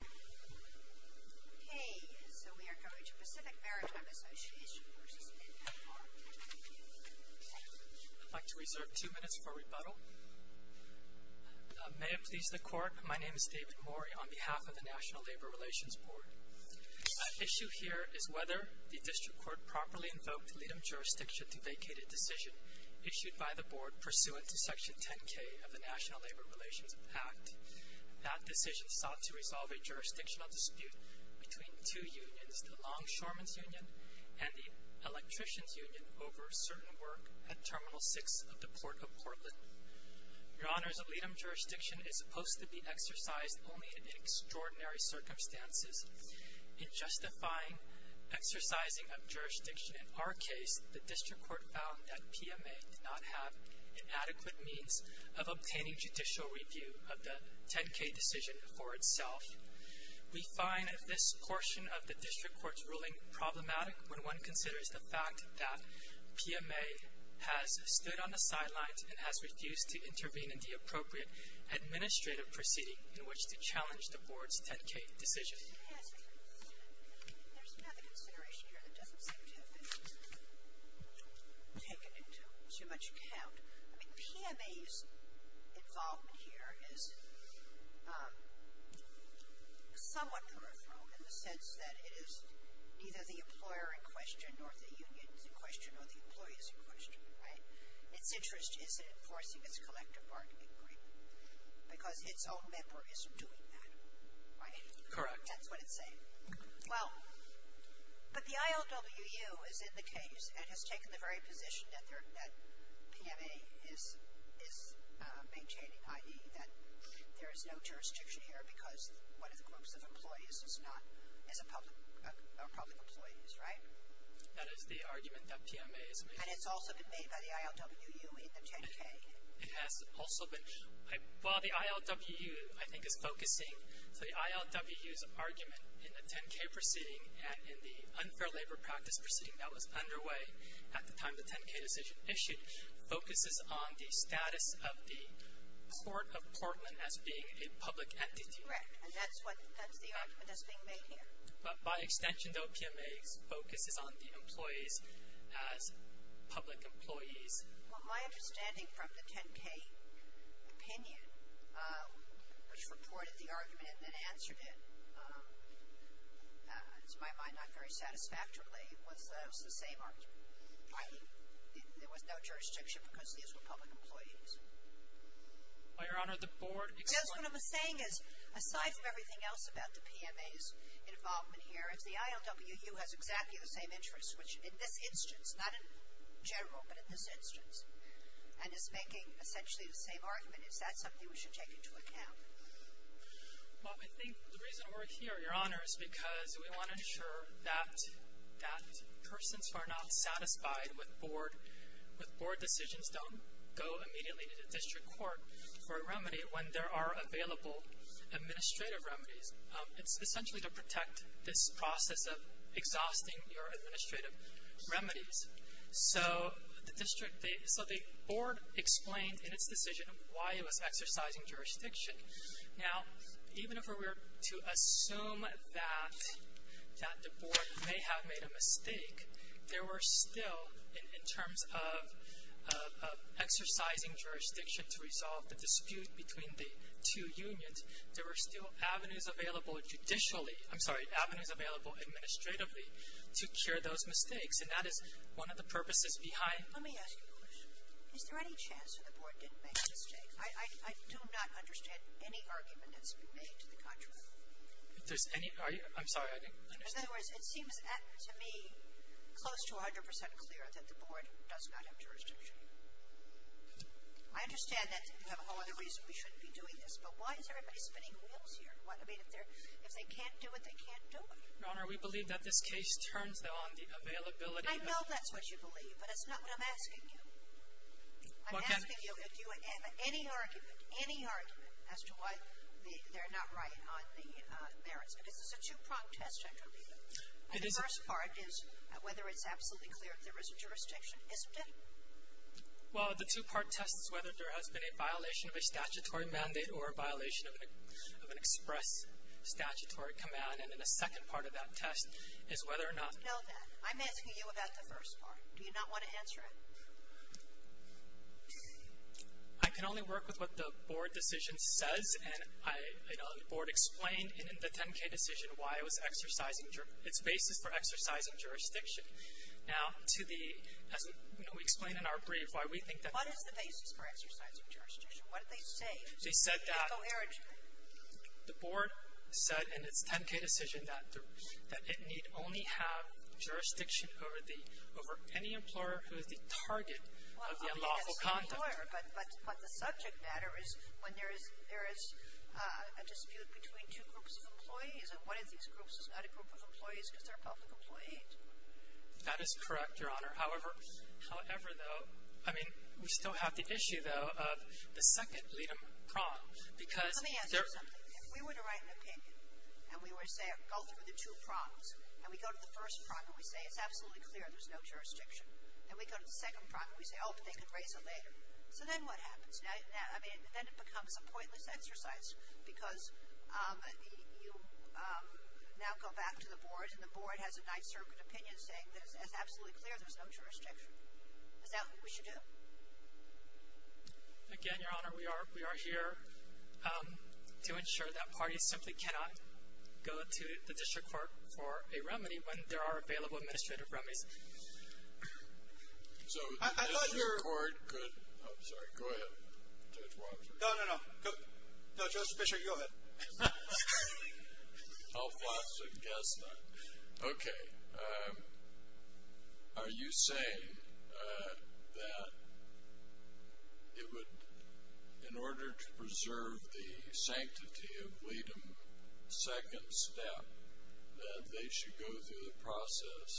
Okay, so we are going to Pacific Maritime Association v. NLRB. I'd like to reserve two minutes for rebuttal. May it please the Court, my name is David Mori on behalf of the National Labor Relations Board. Issue here is whether the District Court properly invoked LIDM jurisdiction to vacate a decision issued by the Board pursuant to Section 10K of the National Labor Relations Act. That decision sought to resolve a jurisdictional dispute between two unions, the Longshoremen's Union and the Electrician's Union over certain work at Terminal 6 of the Port of Portland. Your Honors, LIDM jurisdiction is supposed to be exercised only in extraordinary circumstances. In justifying exercising of jurisdiction in our case, the District Court found that PMA did not have an adequate means of obtaining judicial review of the 10K decision for itself. We find this portion of the District Court's ruling problematic when one considers the fact that PMA has stood on the sidelines and has refused to intervene in the appropriate administrative proceeding in which to challenge the Board's 10K decision. There's another consideration here that doesn't seem to have been taken into too much account. I mean, PMA's involvement here is somewhat peripheral in the sense that it is neither the employer in question nor the unions in question or the employees in question, right? Its interest is in enforcing its collective bargaining agreement because its own member isn't doing that, right? Correct. That's what it's saying. Well, but the ILWU is in the case and has taken the very position that PMA is maintaining, i.e. that there is no jurisdiction here because one of the groups of employees are public employees, right? That is the argument that PMA is making. And it's also been made by the ILWU in the 10K. It has also been. Well, the ILWU, I think, is focusing. So the ILWU's argument in the 10K proceeding and in the unfair labor practice proceeding that was underway at the time the 10K decision issued focuses on the status of the Court of Portland as being a public entity. Correct. And that's the argument that's being made here. By extension, though, PMA focuses on the employees as public employees. Well, my understanding from the 10K opinion, which reported the argument and then answered it, to my mind, not very satisfactorily, was that it was the same argument. There was no jurisdiction because these were public employees. Well, Your Honor, the board — See, that's what I'm saying is, aside from everything else about the PMA's involvement here, if the ILWU has exactly the same interests, which in this instance, not in general, but in this instance, and is making essentially the same argument, is that something we should take into account? Well, I think the reason we're here, Your Honor, is because we want to ensure that persons who are not satisfied with board decisions don't go immediately to the district court for a remedy when there are available administrative remedies. It's essentially to protect this process of exhausting your administrative remedies. So the board explained in its decision why it was exercising jurisdiction. Now, even if we were to assume that the board may have made a mistake, there were still, in terms of exercising jurisdiction to resolve the dispute between the two unions, and there were still avenues available judicially — I'm sorry, avenues available administratively to cure those mistakes, and that is one of the purposes behind — Let me ask you a question. Is there any chance that the board didn't make a mistake? I do not understand any argument that's been made to the contrary. If there's any — I'm sorry, I didn't understand. In other words, it seems to me close to 100 percent clear that the board does not have jurisdiction. I understand that you have a whole other reason we shouldn't be doing this, but why is everybody spinning wheels here? I mean, if they can't do it, they can't do it. Your Honor, we believe that this case turns, though, on the availability of — I know that's what you believe, but that's not what I'm asking you. I'm asking you if you have any argument, any argument, as to why they're not right on the merits, because this is a two-pronged test, I believe. The first part is whether it's absolutely clear that there is a jurisdiction, isn't it? Well, the two-part test is whether there has been a violation of a statutory mandate or a violation of an express statutory command, and then the second part of that test is whether or not — No, then. I'm asking you about the first part. Do you not want to answer it? I can only work with what the board decision says, and I know the board explained in the 10-K decision why it was exercising — its basis for exercising jurisdiction. Now, to the — as we explained in our brief, why we think that — What is the basis for exercising jurisdiction? What did they say? They said that the board said in its 10-K decision that it need only have jurisdiction over the — over any employer who is the target of the unlawful conduct. Sure, but the subject matter is when there is a dispute between two groups of employees, and one of these groups is not a group of employees because they're a public employee. That is correct, Your Honor. However, though — I mean, we still have the issue, though, of the second lead-up prong, because — Let me answer something. If we were to write an opinion, and we were to say — go through the two prongs, and we go to the first prong and we say it's absolutely clear there's no jurisdiction, and we go to the second prong and we say, oh, but they could raise it later. So then what happens? Now, I mean, then it becomes a pointless exercise because you now go back to the board, and the board has a Ninth Circuit opinion saying that it's absolutely clear there's no jurisdiction. Is that what we should do? Again, Your Honor, we are here to ensure that parties simply cannot go to the district court for a remedy when there are available administrative remedies. So the district court could — I'm sorry. Go ahead, Judge Walsh. No, no, no. No, Judge, let's make sure you go ahead. I'll fast and guess then. Okay. Are you saying that it would, in order to preserve the sanctity of lead-up, second step that they should go through the process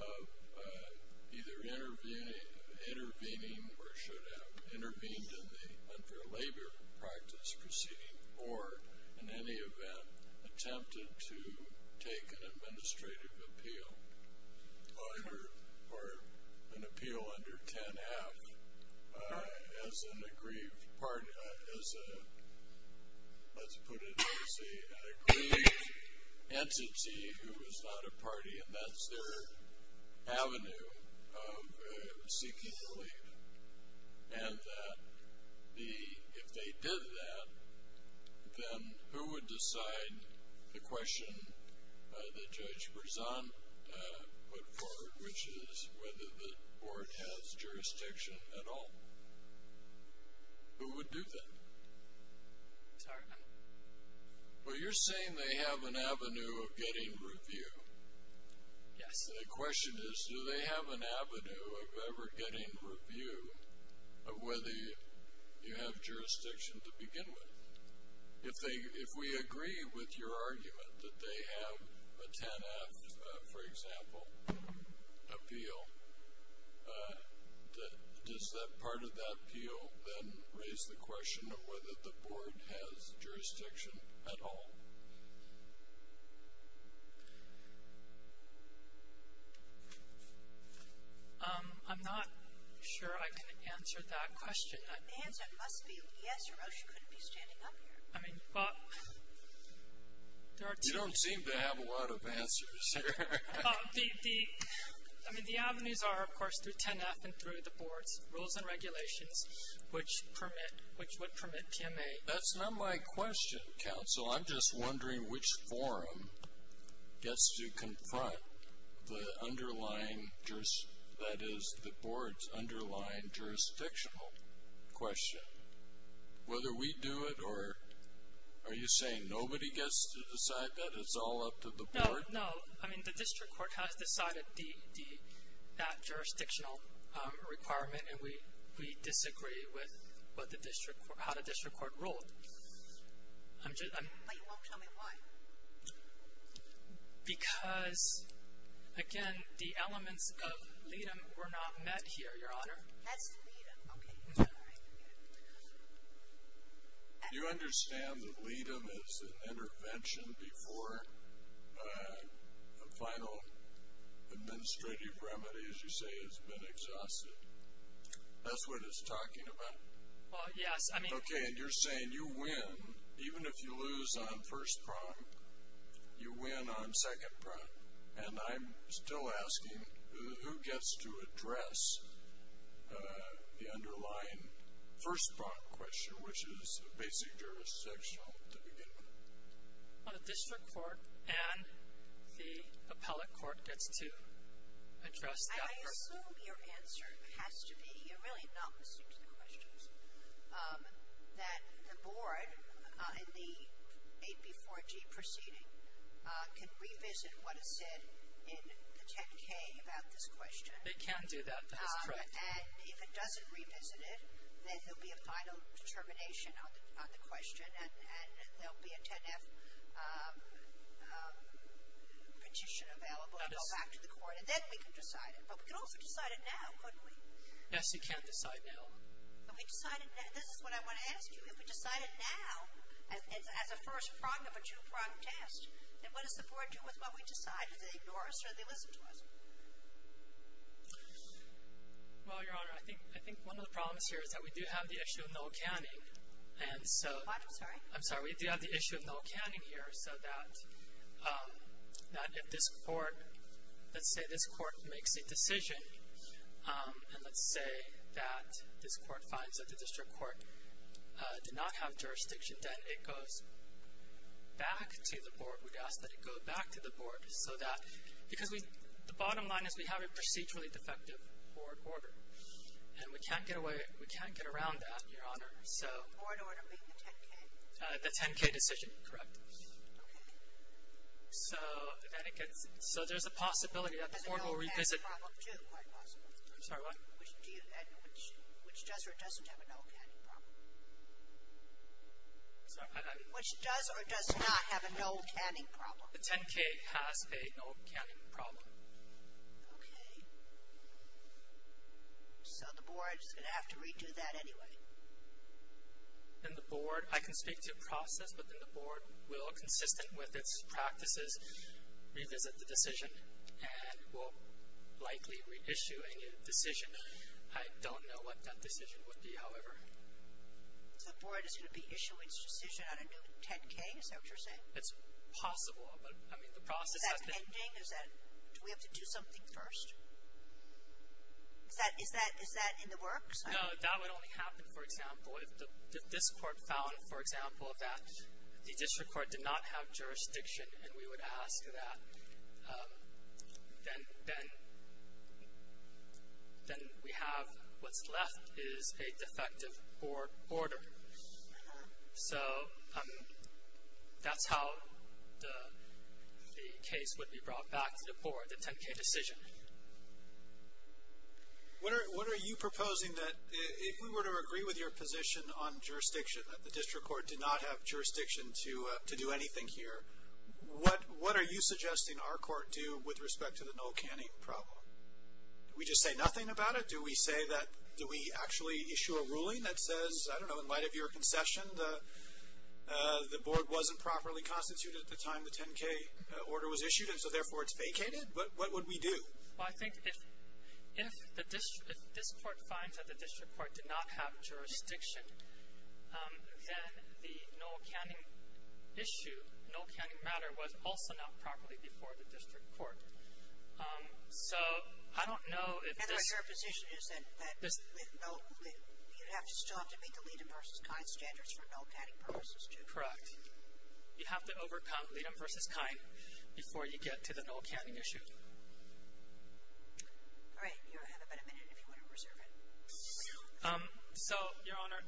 of either intervening or should have intervened in the unfair labor practice proceeding or, in any event, attempted to take an administrative appeal or an appeal under 10.5 as an aggrieved party, as a, let's put it, as an aggrieved entity who is not a party, and that's their avenue of seeking the lead, and that if they did that, then who would decide the question that Judge Berzon put forward, which is whether the court has jurisdiction at all? Who would do that? I'm sorry? Well, you're saying they have an avenue of getting review. Yes. The question is, do they have an avenue of ever getting review of whether you have jurisdiction to begin with? If we agree with your argument that they have a 10.5, for example, appeal, does that part of that appeal then raise the question of whether the board has jurisdiction at all? I'm not sure I can answer that question. The answer must be yes or else you couldn't be standing up here. I mean, but there are two. You don't seem to have a lot of answers here. The avenues are, of course, through 10.5 and through the board's rules and regulations, which would permit PMA. That's not my question, counsel. I'm just wondering which forum gets to confront the underlying, that is the board's underlying jurisdictional question. Whether we do it or, are you saying nobody gets to decide that? It's all up to the board? No. I mean, the district court has decided that jurisdictional requirement, and we disagree with how the district court ruled. But you won't tell me why. Because, again, the elements of LEADM were not met here, Your Honor. That's LEADM. Okay. You understand that LEADM is an intervention before a final administrative remedy, as you say, has been exhausted? That's what it's talking about? Yes. Okay. And you're saying you win, even if you lose on first prompt, you win on second prompt. And I'm still asking who gets to address the underlying first prompt question, which is basic jurisdictional at the beginning. Well, the district court and the appellate court gets to address that first prompt. I assume your answer has to be, you're really not listening to the questions, that the board in the 8B4G proceeding can revisit what is said in the 10-K about this question. They can do that. That is correct. And if it doesn't revisit it, then there will be a final determination on the question, and there will be a 10-F petition available to go back to the court, and then we can decide it. But we could also decide it now, couldn't we? Yes, you can decide now. This is what I want to ask you. If we decide it now, as a first prompt of a two-prompt test, then what does the board do with what we decide? Do they ignore us or do they listen to us? Well, Your Honor, I think one of the problems here is that we do have the issue of null counting. I'm sorry? I'm sorry. We do have the issue of null counting here, so that if this court, let's say this court makes a decision, and let's say that this court finds that the district court did not have jurisdiction, then it goes back to the board. We'd ask that it go back to the board so that the bottom line is we have a procedurally defective board order, and we can't get around that, Your Honor. The board order being the 10-K? The 10-K decision, correct. Okay. So there's a possibility that the court will revisit. There's a null counting problem, too, quite possibly. I'm sorry, what? Which does or doesn't have a null counting problem. I'm sorry? Which does or does not have a null counting problem. The 10-K has a null counting problem. Okay. So the board is going to have to redo that anyway. Then the board, I can speak to a process, but then the board will, consistent with its practices, revisit the decision and will likely reissue a new decision. I don't know what that decision would be, however. So the board is going to be issuing its decision on a new 10-K, is that what you're saying? It's possible, but, I mean, the process has been. Is that pending? Do we have to do something first? Is that in the works? No, that would only happen, for example, if this court found, for example, that the district court did not have jurisdiction and we would ask that then we have what's left is a defective board order. So that's how the case would be brought back to the board, the 10-K decision. What are you proposing that if we were to agree with your position on jurisdiction, that the district court did not have jurisdiction to do anything here, what are you suggesting our court do with respect to the null counting problem? Do we just say nothing about it? Do we say that, do we actually issue a ruling that says, I don't know, in light of your concession the board wasn't properly constituted at the time the 10-K order was issued and so therefore it's vacated? What would we do? Well, I think if this court finds that the district court did not have jurisdiction, then the null counting issue, null counting matter was also not properly before the district court. So I don't know if this. And your position is that you'd still have to meet the Leedem versus Kine standards for null counting purposes too? Correct. You'd have to overcome Leedem versus Kine before you get to the null counting issue. All right. You have about a minute if you want to reserve it. So, Your Honor,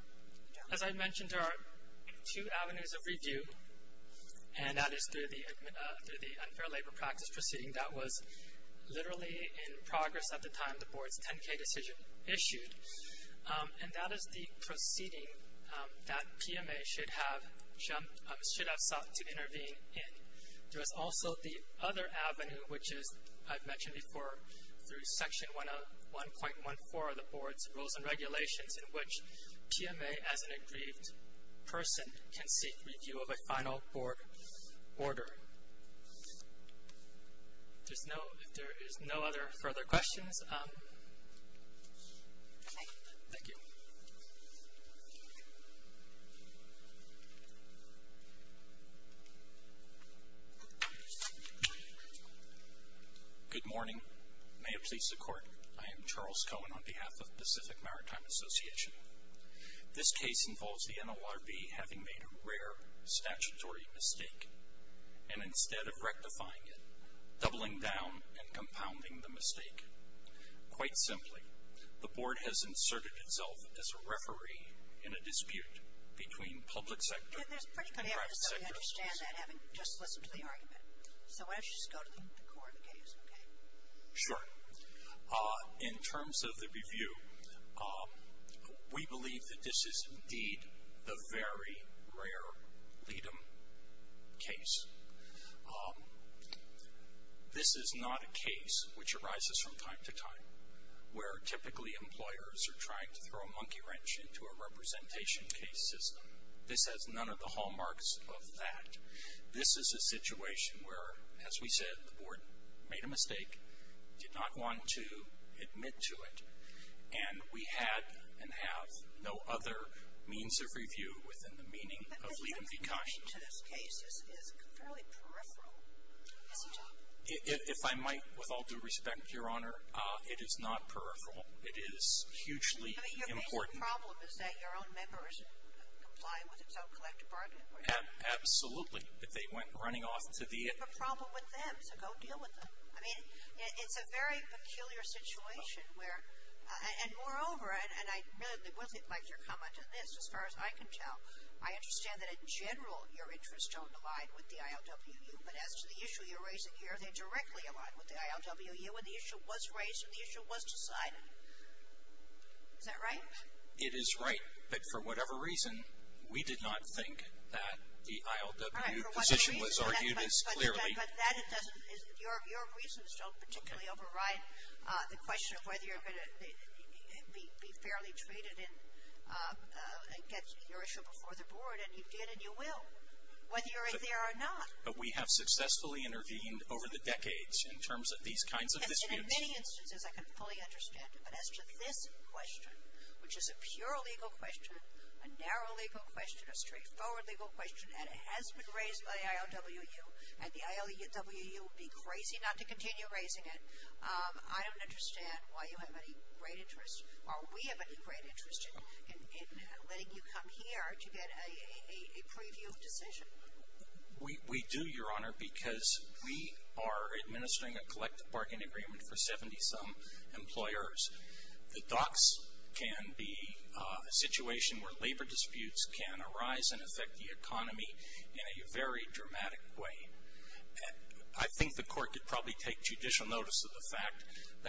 as I mentioned, there are two avenues of review, and that is through the unfair labor practice proceeding that was literally in progress at the time the board's 10-K decision issued. And that is the proceeding that PMA should have sought to intervene in. There is also the other avenue, which is, I've mentioned before, through Section 1.14 of the board's rules and regulations in which PMA, as an aggrieved person, can seek review of a final board order. If there is no other further questions, thank you. Good morning. May it please the Court, I am Charles Cohen on behalf of Pacific Maritime Association. This case involves the NLRB having made a rare statutory mistake, and instead of rectifying it, doubling down and compounding the mistake. Quite simply, the board has inserted itself as a referee in a dispute between public sector and private sector offices. And there's pretty good evidence that we understand that, having just listened to the argument. So why don't you just go to the Court of Appeals, okay? Sure. In terms of the review, we believe that this is indeed the very rare lead-em case. This is not a case, which arises from time to time, where typically employers are trying to throw a monkey wrench into a representation case system. This has none of the hallmarks of that. This is a situation where, as we said, the board made a mistake, did not want to admit to it, and we had and have no other means of review within the meaning of lead-em be kind. If I might, with all due respect, Your Honor, it is not peripheral. It is hugely important. Your problem is that your own members comply with its own collective bargaining. Absolutely. If they went running off into the air. You have a problem with them, so go deal with them. I mean, it's a very peculiar situation where, and moreover, and I really would have liked your comment on this as far as I can tell. I understand that in general your interests don't align with the ILWU, but as to the issue you're raising here, they directly align with the ILWU, and the issue was raised and the issue was decided. Is that right? It is right, but for whatever reason, we did not think that the ILWU position was argued as clearly. But that doesn't, your reasons don't particularly override the question of whether you're going to be fairly treated and get your issue before the board, and you did and you will, whether you're in there or not. But we have successfully intervened over the decades in terms of these kinds of issues. And in many instances I can fully understand, but as to this question, which is a pure legal question, a narrow legal question, a straightforward legal question, and it has been raised by the ILWU, and the ILWU would be crazy not to continue raising it, I don't understand why you have any great interest, or we have any great interest, in letting you come here to get a preview decision. We do, your honor, because we are administering a collective bargaining agreement for 70-some employers. The docks can be a situation where labor disputes can arise and affect the economy in a very dramatic way. I think the court could probably take judicial notice of the fact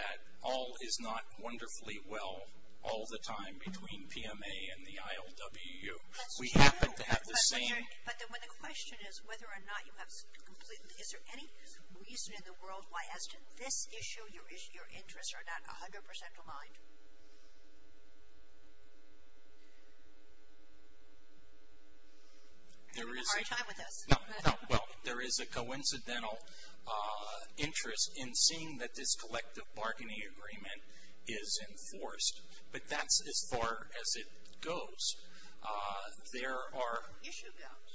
that all is not wonderfully well all the time between PMA and the ILWU. We happen to have the same. But when the question is whether or not you have, is there any reason in the world why, as to this issue, your interests are not 100% aligned? You're having a hard time with this. No, no, well, there is a coincidental interest in seeing that this collective bargaining agreement is enforced. But that's as far as it goes. There are. Issue doubts.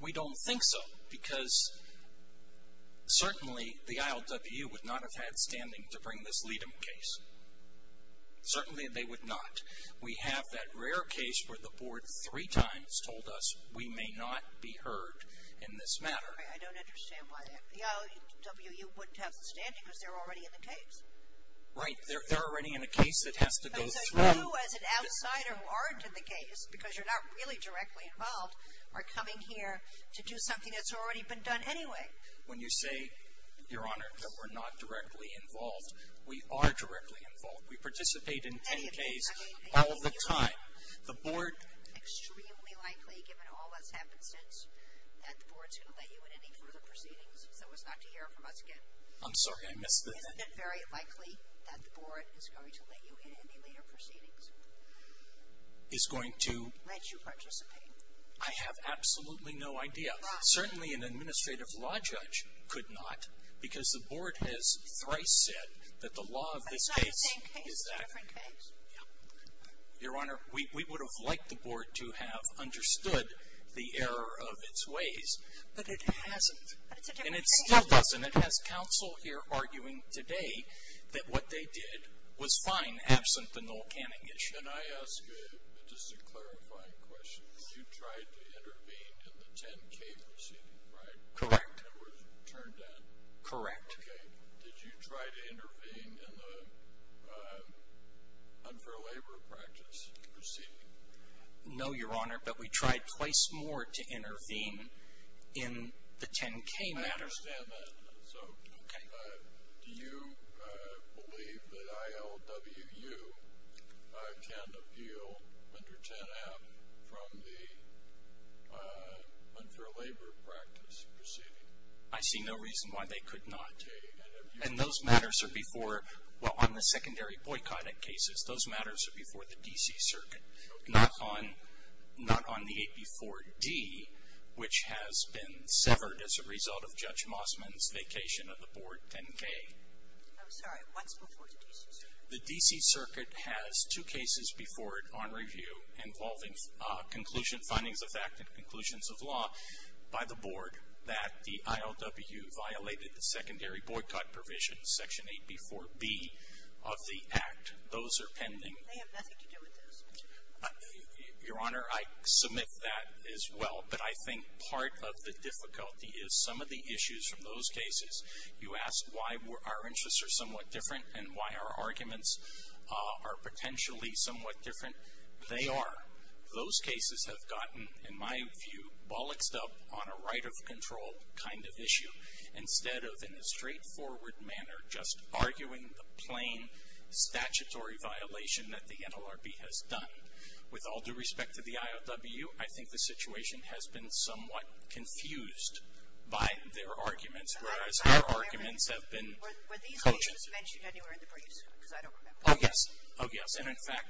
We don't think so, because certainly the ILWU would not have had standing to bring this lead-em case. Certainly they would not. We have that rare case where the board three times told us we may not be heard in this matter. I don't understand why that, the ILWU wouldn't have the standing because they're already in the case. Right. They're already in the case. It has to go through. So you as an outsider who aren't in the case, because you're not really directly involved, are coming here to do something that's already been done anyway. When you say, Your Honor, that we're not directly involved, we are directly involved. We participate in any case all the time. The board. Extremely likely, given all that's happened since, that the board's going to let you in any further proceedings so as not to hear from us again. I'm sorry. I missed the. Isn't it very likely that the board is going to let you in any later proceedings? Is going to. Let you participate. I have absolutely no idea. Why? Certainly an administrative law judge could not, because the board has thrice said that the law of this case. But it's not the same case. It's a different case. Yeah. Your Honor, we would have liked the board to have understood the error of its ways, but it hasn't. But it's a different case. And it still doesn't. It has counsel here arguing today that what they did was fine, absent the null canning issue. Can I ask just a clarifying question? You tried to intervene in the 10-K proceeding, right? Correct. It was turned down. Correct. Okay. Did you try to intervene in the unfair labor practice proceeding? No, Your Honor, but we tried twice more to intervene in the 10-K matter. I understand that. So, do you believe that ILWU can appeal under 10-F from the unfair labor practice proceeding? I see no reason why they could not. And those matters are before, well, on the secondary boycott cases. Those matters are before the D.C. Circuit. Not on the 8B4D, which has been severed as a result of Judge Mossman's vacation of the board 10-K. I'm sorry. What's before the D.C. Circuit? The D.C. Circuit has two cases before it on review involving findings of fact and conclusions of law by the board that the ILWU violated the secondary boycott provisions, Section 8B4B of the Act. Those are pending. They have nothing to do with this. Your Honor, I submit that as well. But I think part of the difficulty is some of the issues from those cases. You asked why our interests are somewhat different and why our arguments are potentially somewhat different. They are. Those cases have gotten, in my view, bolloxed up on a right of control kind of issue. Instead of, in a straightforward manner, just arguing the plain statutory violation that the NLRB has done. With all due respect to the ILWU, I think the situation has been somewhat confused by their arguments, whereas our arguments have been. Were these cases mentioned anywhere in the briefs? Because I don't remember. Oh, yes. Oh, yes. And, in fact,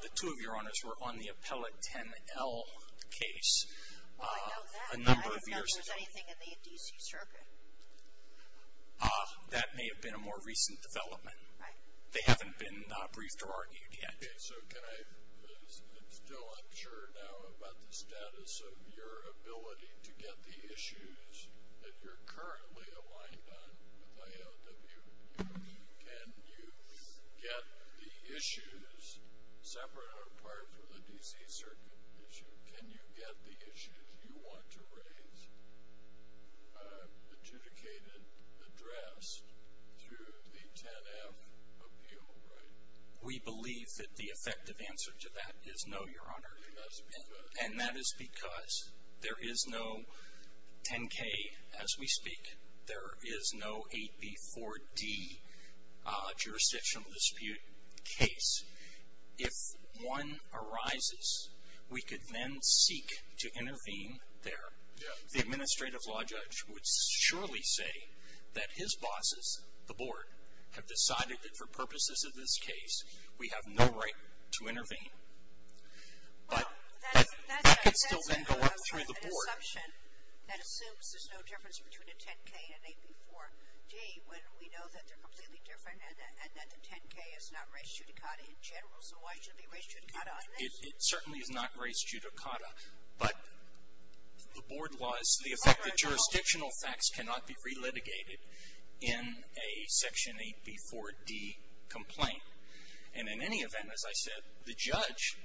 the two of your Honors were on the Appellate 10-L case a number of years ago. Was there anything in the D.C. Circuit? That may have been a more recent development. Right. They haven't been briefed or argued yet. Okay. So can I, still unsure now about the status of your ability to get the issues that you're currently aligned on with ILWU. Can you get the issues separate or apart from the D.C. Circuit issue? Can you get the issues you want to raise adjudicated, addressed, through the 10-F appeal right? We believe that the effective answer to that is no, Your Honor. And that's because? And that is because there is no 10-K, as we speak. There is no 8B-4D jurisdictional dispute case. If one arises, we could then seek to intervene there. The administrative law judge would surely say that his bosses, the Board, have decided that for purposes of this case, we have no right to intervene. But that could still then go up through the Board. That's an assumption that assumes there's no difference between a 10-K and 8B-4D, when we know that they're completely different and that the 10-K is not raised judicata in general. So why should it be raised judicata on this? It certainly is not raised judicata. But the Board laws, the effect of jurisdictional facts cannot be relitigated in a Section 8B-4D complaint. And in any event, as I said, the judge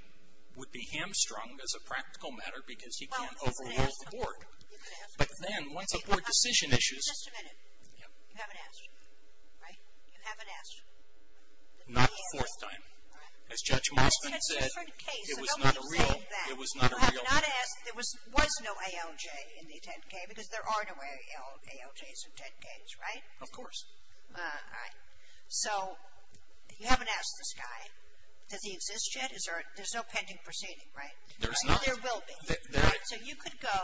would be hamstrung as a practical matter because he can't overrule the Board. But then, once a Board decision issues. Just a minute. You haven't asked, right? You haven't asked. Not the fourth time. As Judge Mosman said, it was not a real. It was not a real. There was no ALJ in the 10-K because there are no ALJs in 10-Ks, right? Of course. All right. So you haven't asked this guy. Does he exist yet? There's no pending proceeding, right? There's not. There will be. So you could go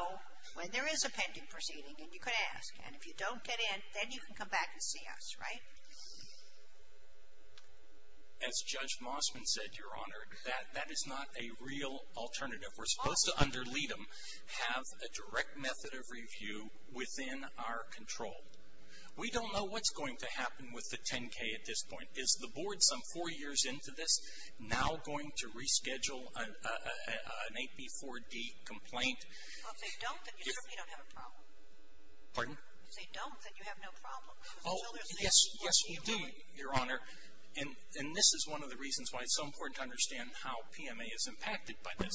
when there is a pending proceeding and you could ask. And if you don't get in, then you can come back and see us, right? As Judge Mosman said, Your Honor, that is not a real alternative. We're supposed to under lead them, have a direct method of review within our control. We don't know what's going to happen with the 10-K at this point. Is the board some four years into this now going to reschedule an AP4D complaint? Well, if they don't, then you certainly don't have a problem. Pardon? If they don't, then you have no problem. Oh, yes, yes, we do, Your Honor. And this is one of the reasons why it's so important to understand how PMA is impacted by this.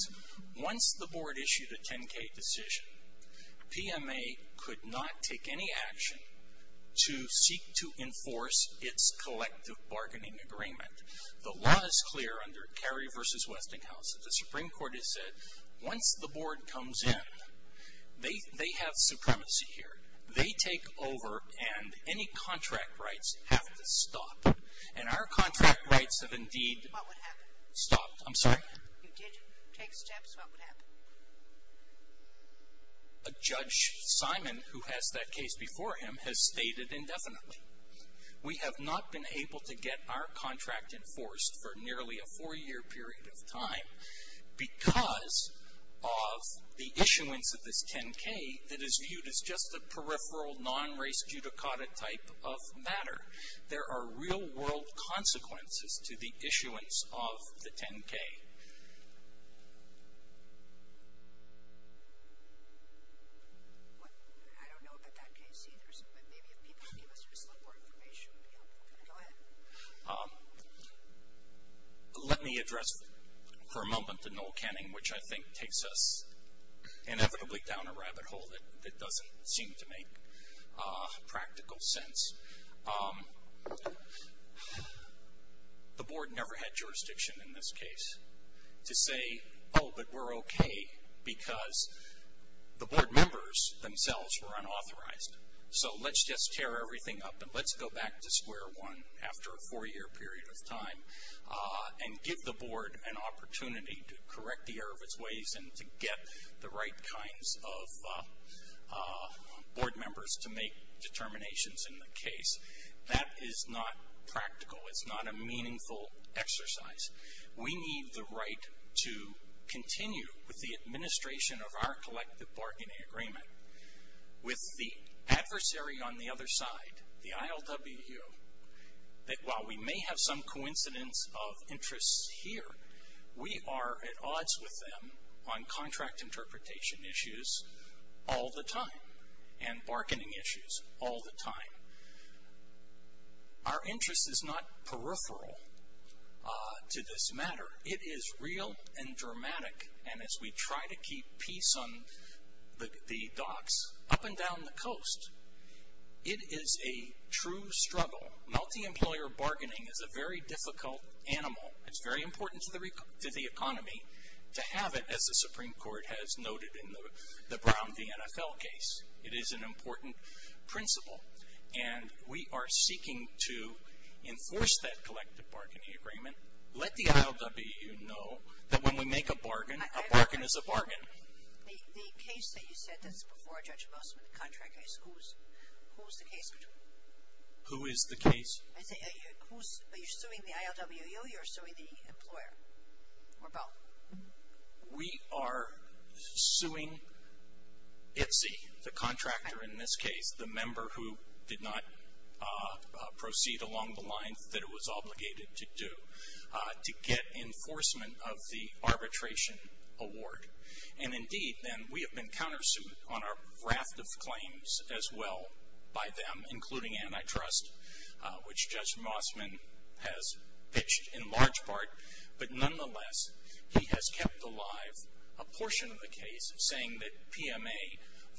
Once the board issued a 10-K decision, PMA could not take any action to seek to enforce its collective bargaining agreement. The law is clear under Carey v. Westinghouse. The Supreme Court has said once the board comes in, they have supremacy here. They take over and any contract rights have to stop. And our contract rights have indeed stopped. I'm sorry? If you did take steps, what would happen? Judge Simon, who has that case before him, has stated indefinitely. We have not been able to get our contract enforced for nearly a four-year period of time because of the issuance of this 10-K that is viewed as just a peripheral, non-race judicata type of matter. There are real-world consequences to the issuance of the 10-K. Let me address for a moment the Noel Canning, which I think takes us inevitably down a rabbit hole that doesn't seem to make practical sense. The board never had jurisdiction in this case to say, oh, but we're okay because the board members themselves were unauthorized. So let's just tear everything up and let's go back to square one after a four-year period of time and give the board an opportunity to correct the error of its ways and to get the right kinds of board members to make determinations in the case. That is not practical. It's not a meaningful exercise. We need the right to continue with the administration of our collective bargaining agreement with the adversary on the other side, the ILWU, that while we may have some coincidence of interests here, we are at odds with them on contract interpretation issues all the time and bargaining issues all the time. Our interest is not peripheral to this matter. It is real and dramatic, and as we try to keep peace on the docks up and down the coast, it is a true struggle. Multi-employer bargaining is a very difficult animal. It's very important to the economy to have it, as the Supreme Court has noted in the Brown v. NFL case. It is an important principle, and we are seeking to enforce that collective bargaining agreement, and let the ILWU know that when we make a bargain, a bargain is a bargain. The case that you said that's before Judge Bussman, the contract case, who is the case? Who is the case? Are you suing the ILWU or are you suing the employer, or both? We are suing ITSE, the contractor in this case, the member who did not proceed along the lines that it was obligated to do, to get enforcement of the arbitration award. And indeed, then, we have been countersued on our raft of claims as well by them, including antitrust, which Judge Bussman has pitched in large part. But nonetheless, he has kept alive a portion of the case, saying that PMA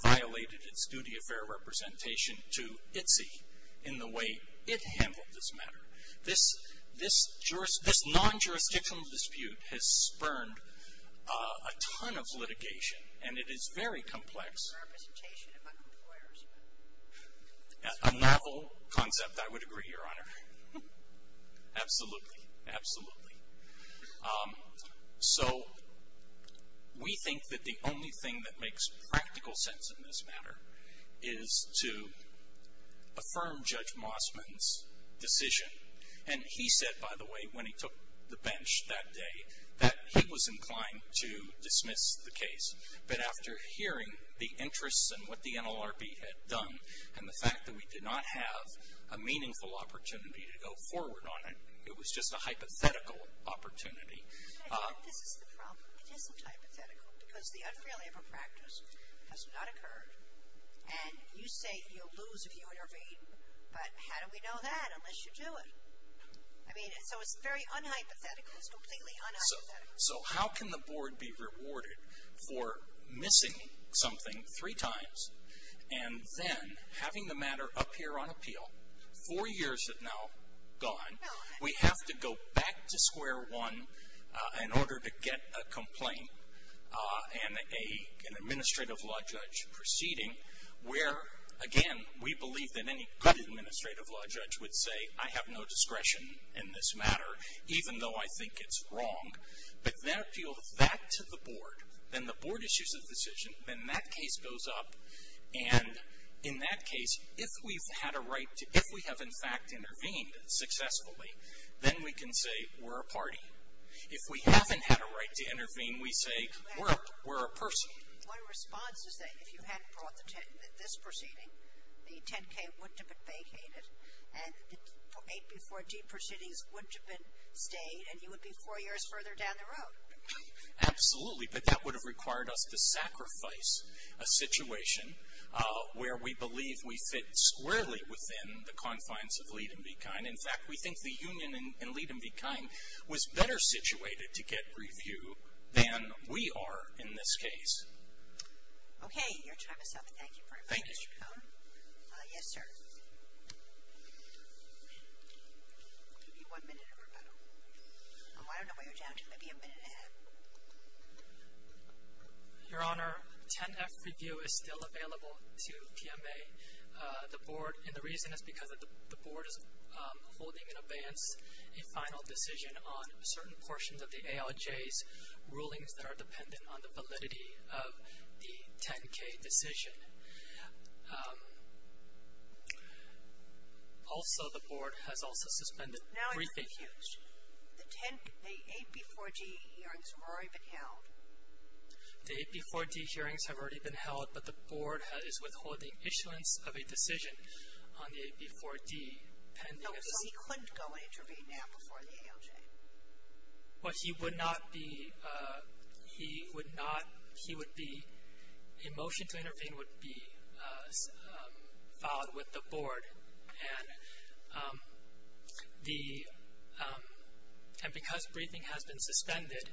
violated its duty of fair representation to ITSE in the way it handled this matter. This non-jurisdictional dispute has spurned a ton of litigation, and it is very complex, a novel concept, I would agree, Your Honor. Absolutely, absolutely. So we think that the only thing that makes practical sense in this matter is to affirm Judge Bussman's decision, and he said, by the way, when he took the bench that day, that he was inclined to dismiss the case. But after hearing the interests and what the NLRB had done, and the fact that we did not have a meaningful opportunity to go forward on it, it was just a hypothetical opportunity. I think this is the problem. It isn't hypothetical, because the unfair labor practice has not occurred. And you say you'll lose if you intervene, but how do we know that unless you do it? I mean, so it's very unhypothetical. It's completely unhypothetical. So how can the Board be rewarded for missing something three times, and then having the matter appear on appeal four years from now, gone, we have to go back to square one in order to get a complaint and an administrative law judge proceeding where, again, we believe that any good administrative law judge would say, I have no discretion in this matter, even though I think it's wrong. But then appeal that to the Board, then the Board issues a decision, then that case goes up, and in that case, if we have, in fact, intervened successfully, then we can say we're a party. If we haven't had a right to intervene, we say we're a person. My response is that if you hadn't brought this proceeding, the 10K wouldn't have been vacated, and the 8B14 proceedings wouldn't have been stayed, and you would be four years further down the road. Absolutely, but that would have required us to sacrifice a situation where we believe we fit squarely within the confines of lead and be kind. In fact, we think the union in lead and be kind was better situated to get review than we are in this case. Okay, your time is up. Thank you for your time, Mr. Cohn. Thank you. Yes, sir. Give me one minute, everybody. I don't know what you're down to, maybe a minute and a half. Your Honor, 10F review is still available to PMA. The board, and the reason is because the board is holding in advance a final decision on certain portions of the ALJ's rulings that are dependent on the validity of the 10K decision. Also, the board has also suspended briefing. The 10K, the 8B4D hearings have already been held. The 8B4D hearings have already been held, but the board is withholding issuance of a decision on the 8B4D. So he couldn't go and intervene now before the ALJ? Well, he would not be, he would not, he would be, a motion to intervene would be filed with the board, and because briefing has been suspended,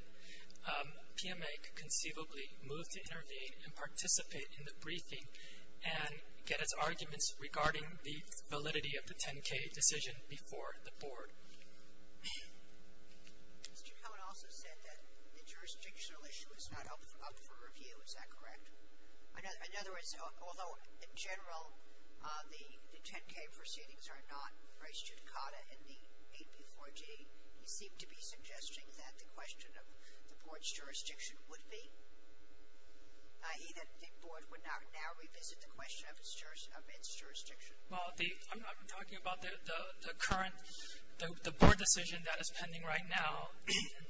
PMA could conceivably move to intervene and participate in the briefing and get its arguments regarding the validity of the 10K decision before the board. Mr. Cohn also said that the jurisdictional issue is not up for review, is that correct? In other words, although in general the 10K proceedings are not raised to the CADA in the 8B4D, he seemed to be suggesting that the question of the board's jurisdiction would be. He didn't think the board would now revisit the question of its jurisdiction. Well, I'm talking about the current, the board decision that is pending right now,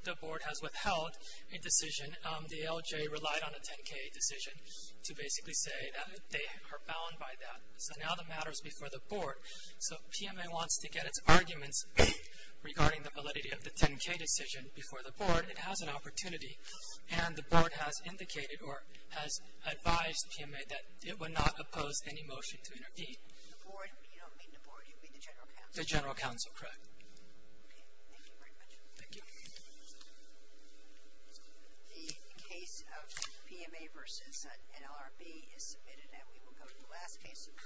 the board has withheld a decision. The ALJ relied on a 10K decision to basically say that they are bound by that. So now the matter is before the board. So if PMA wants to get its arguments regarding the validity of the 10K decision before the board, it has an opportunity, and the board has indicated or has advised PMA that it would not oppose any motion to intervene. The board, you don't mean the board, you mean the general counsel? The general counsel, correct. Thank you very much. Thank you.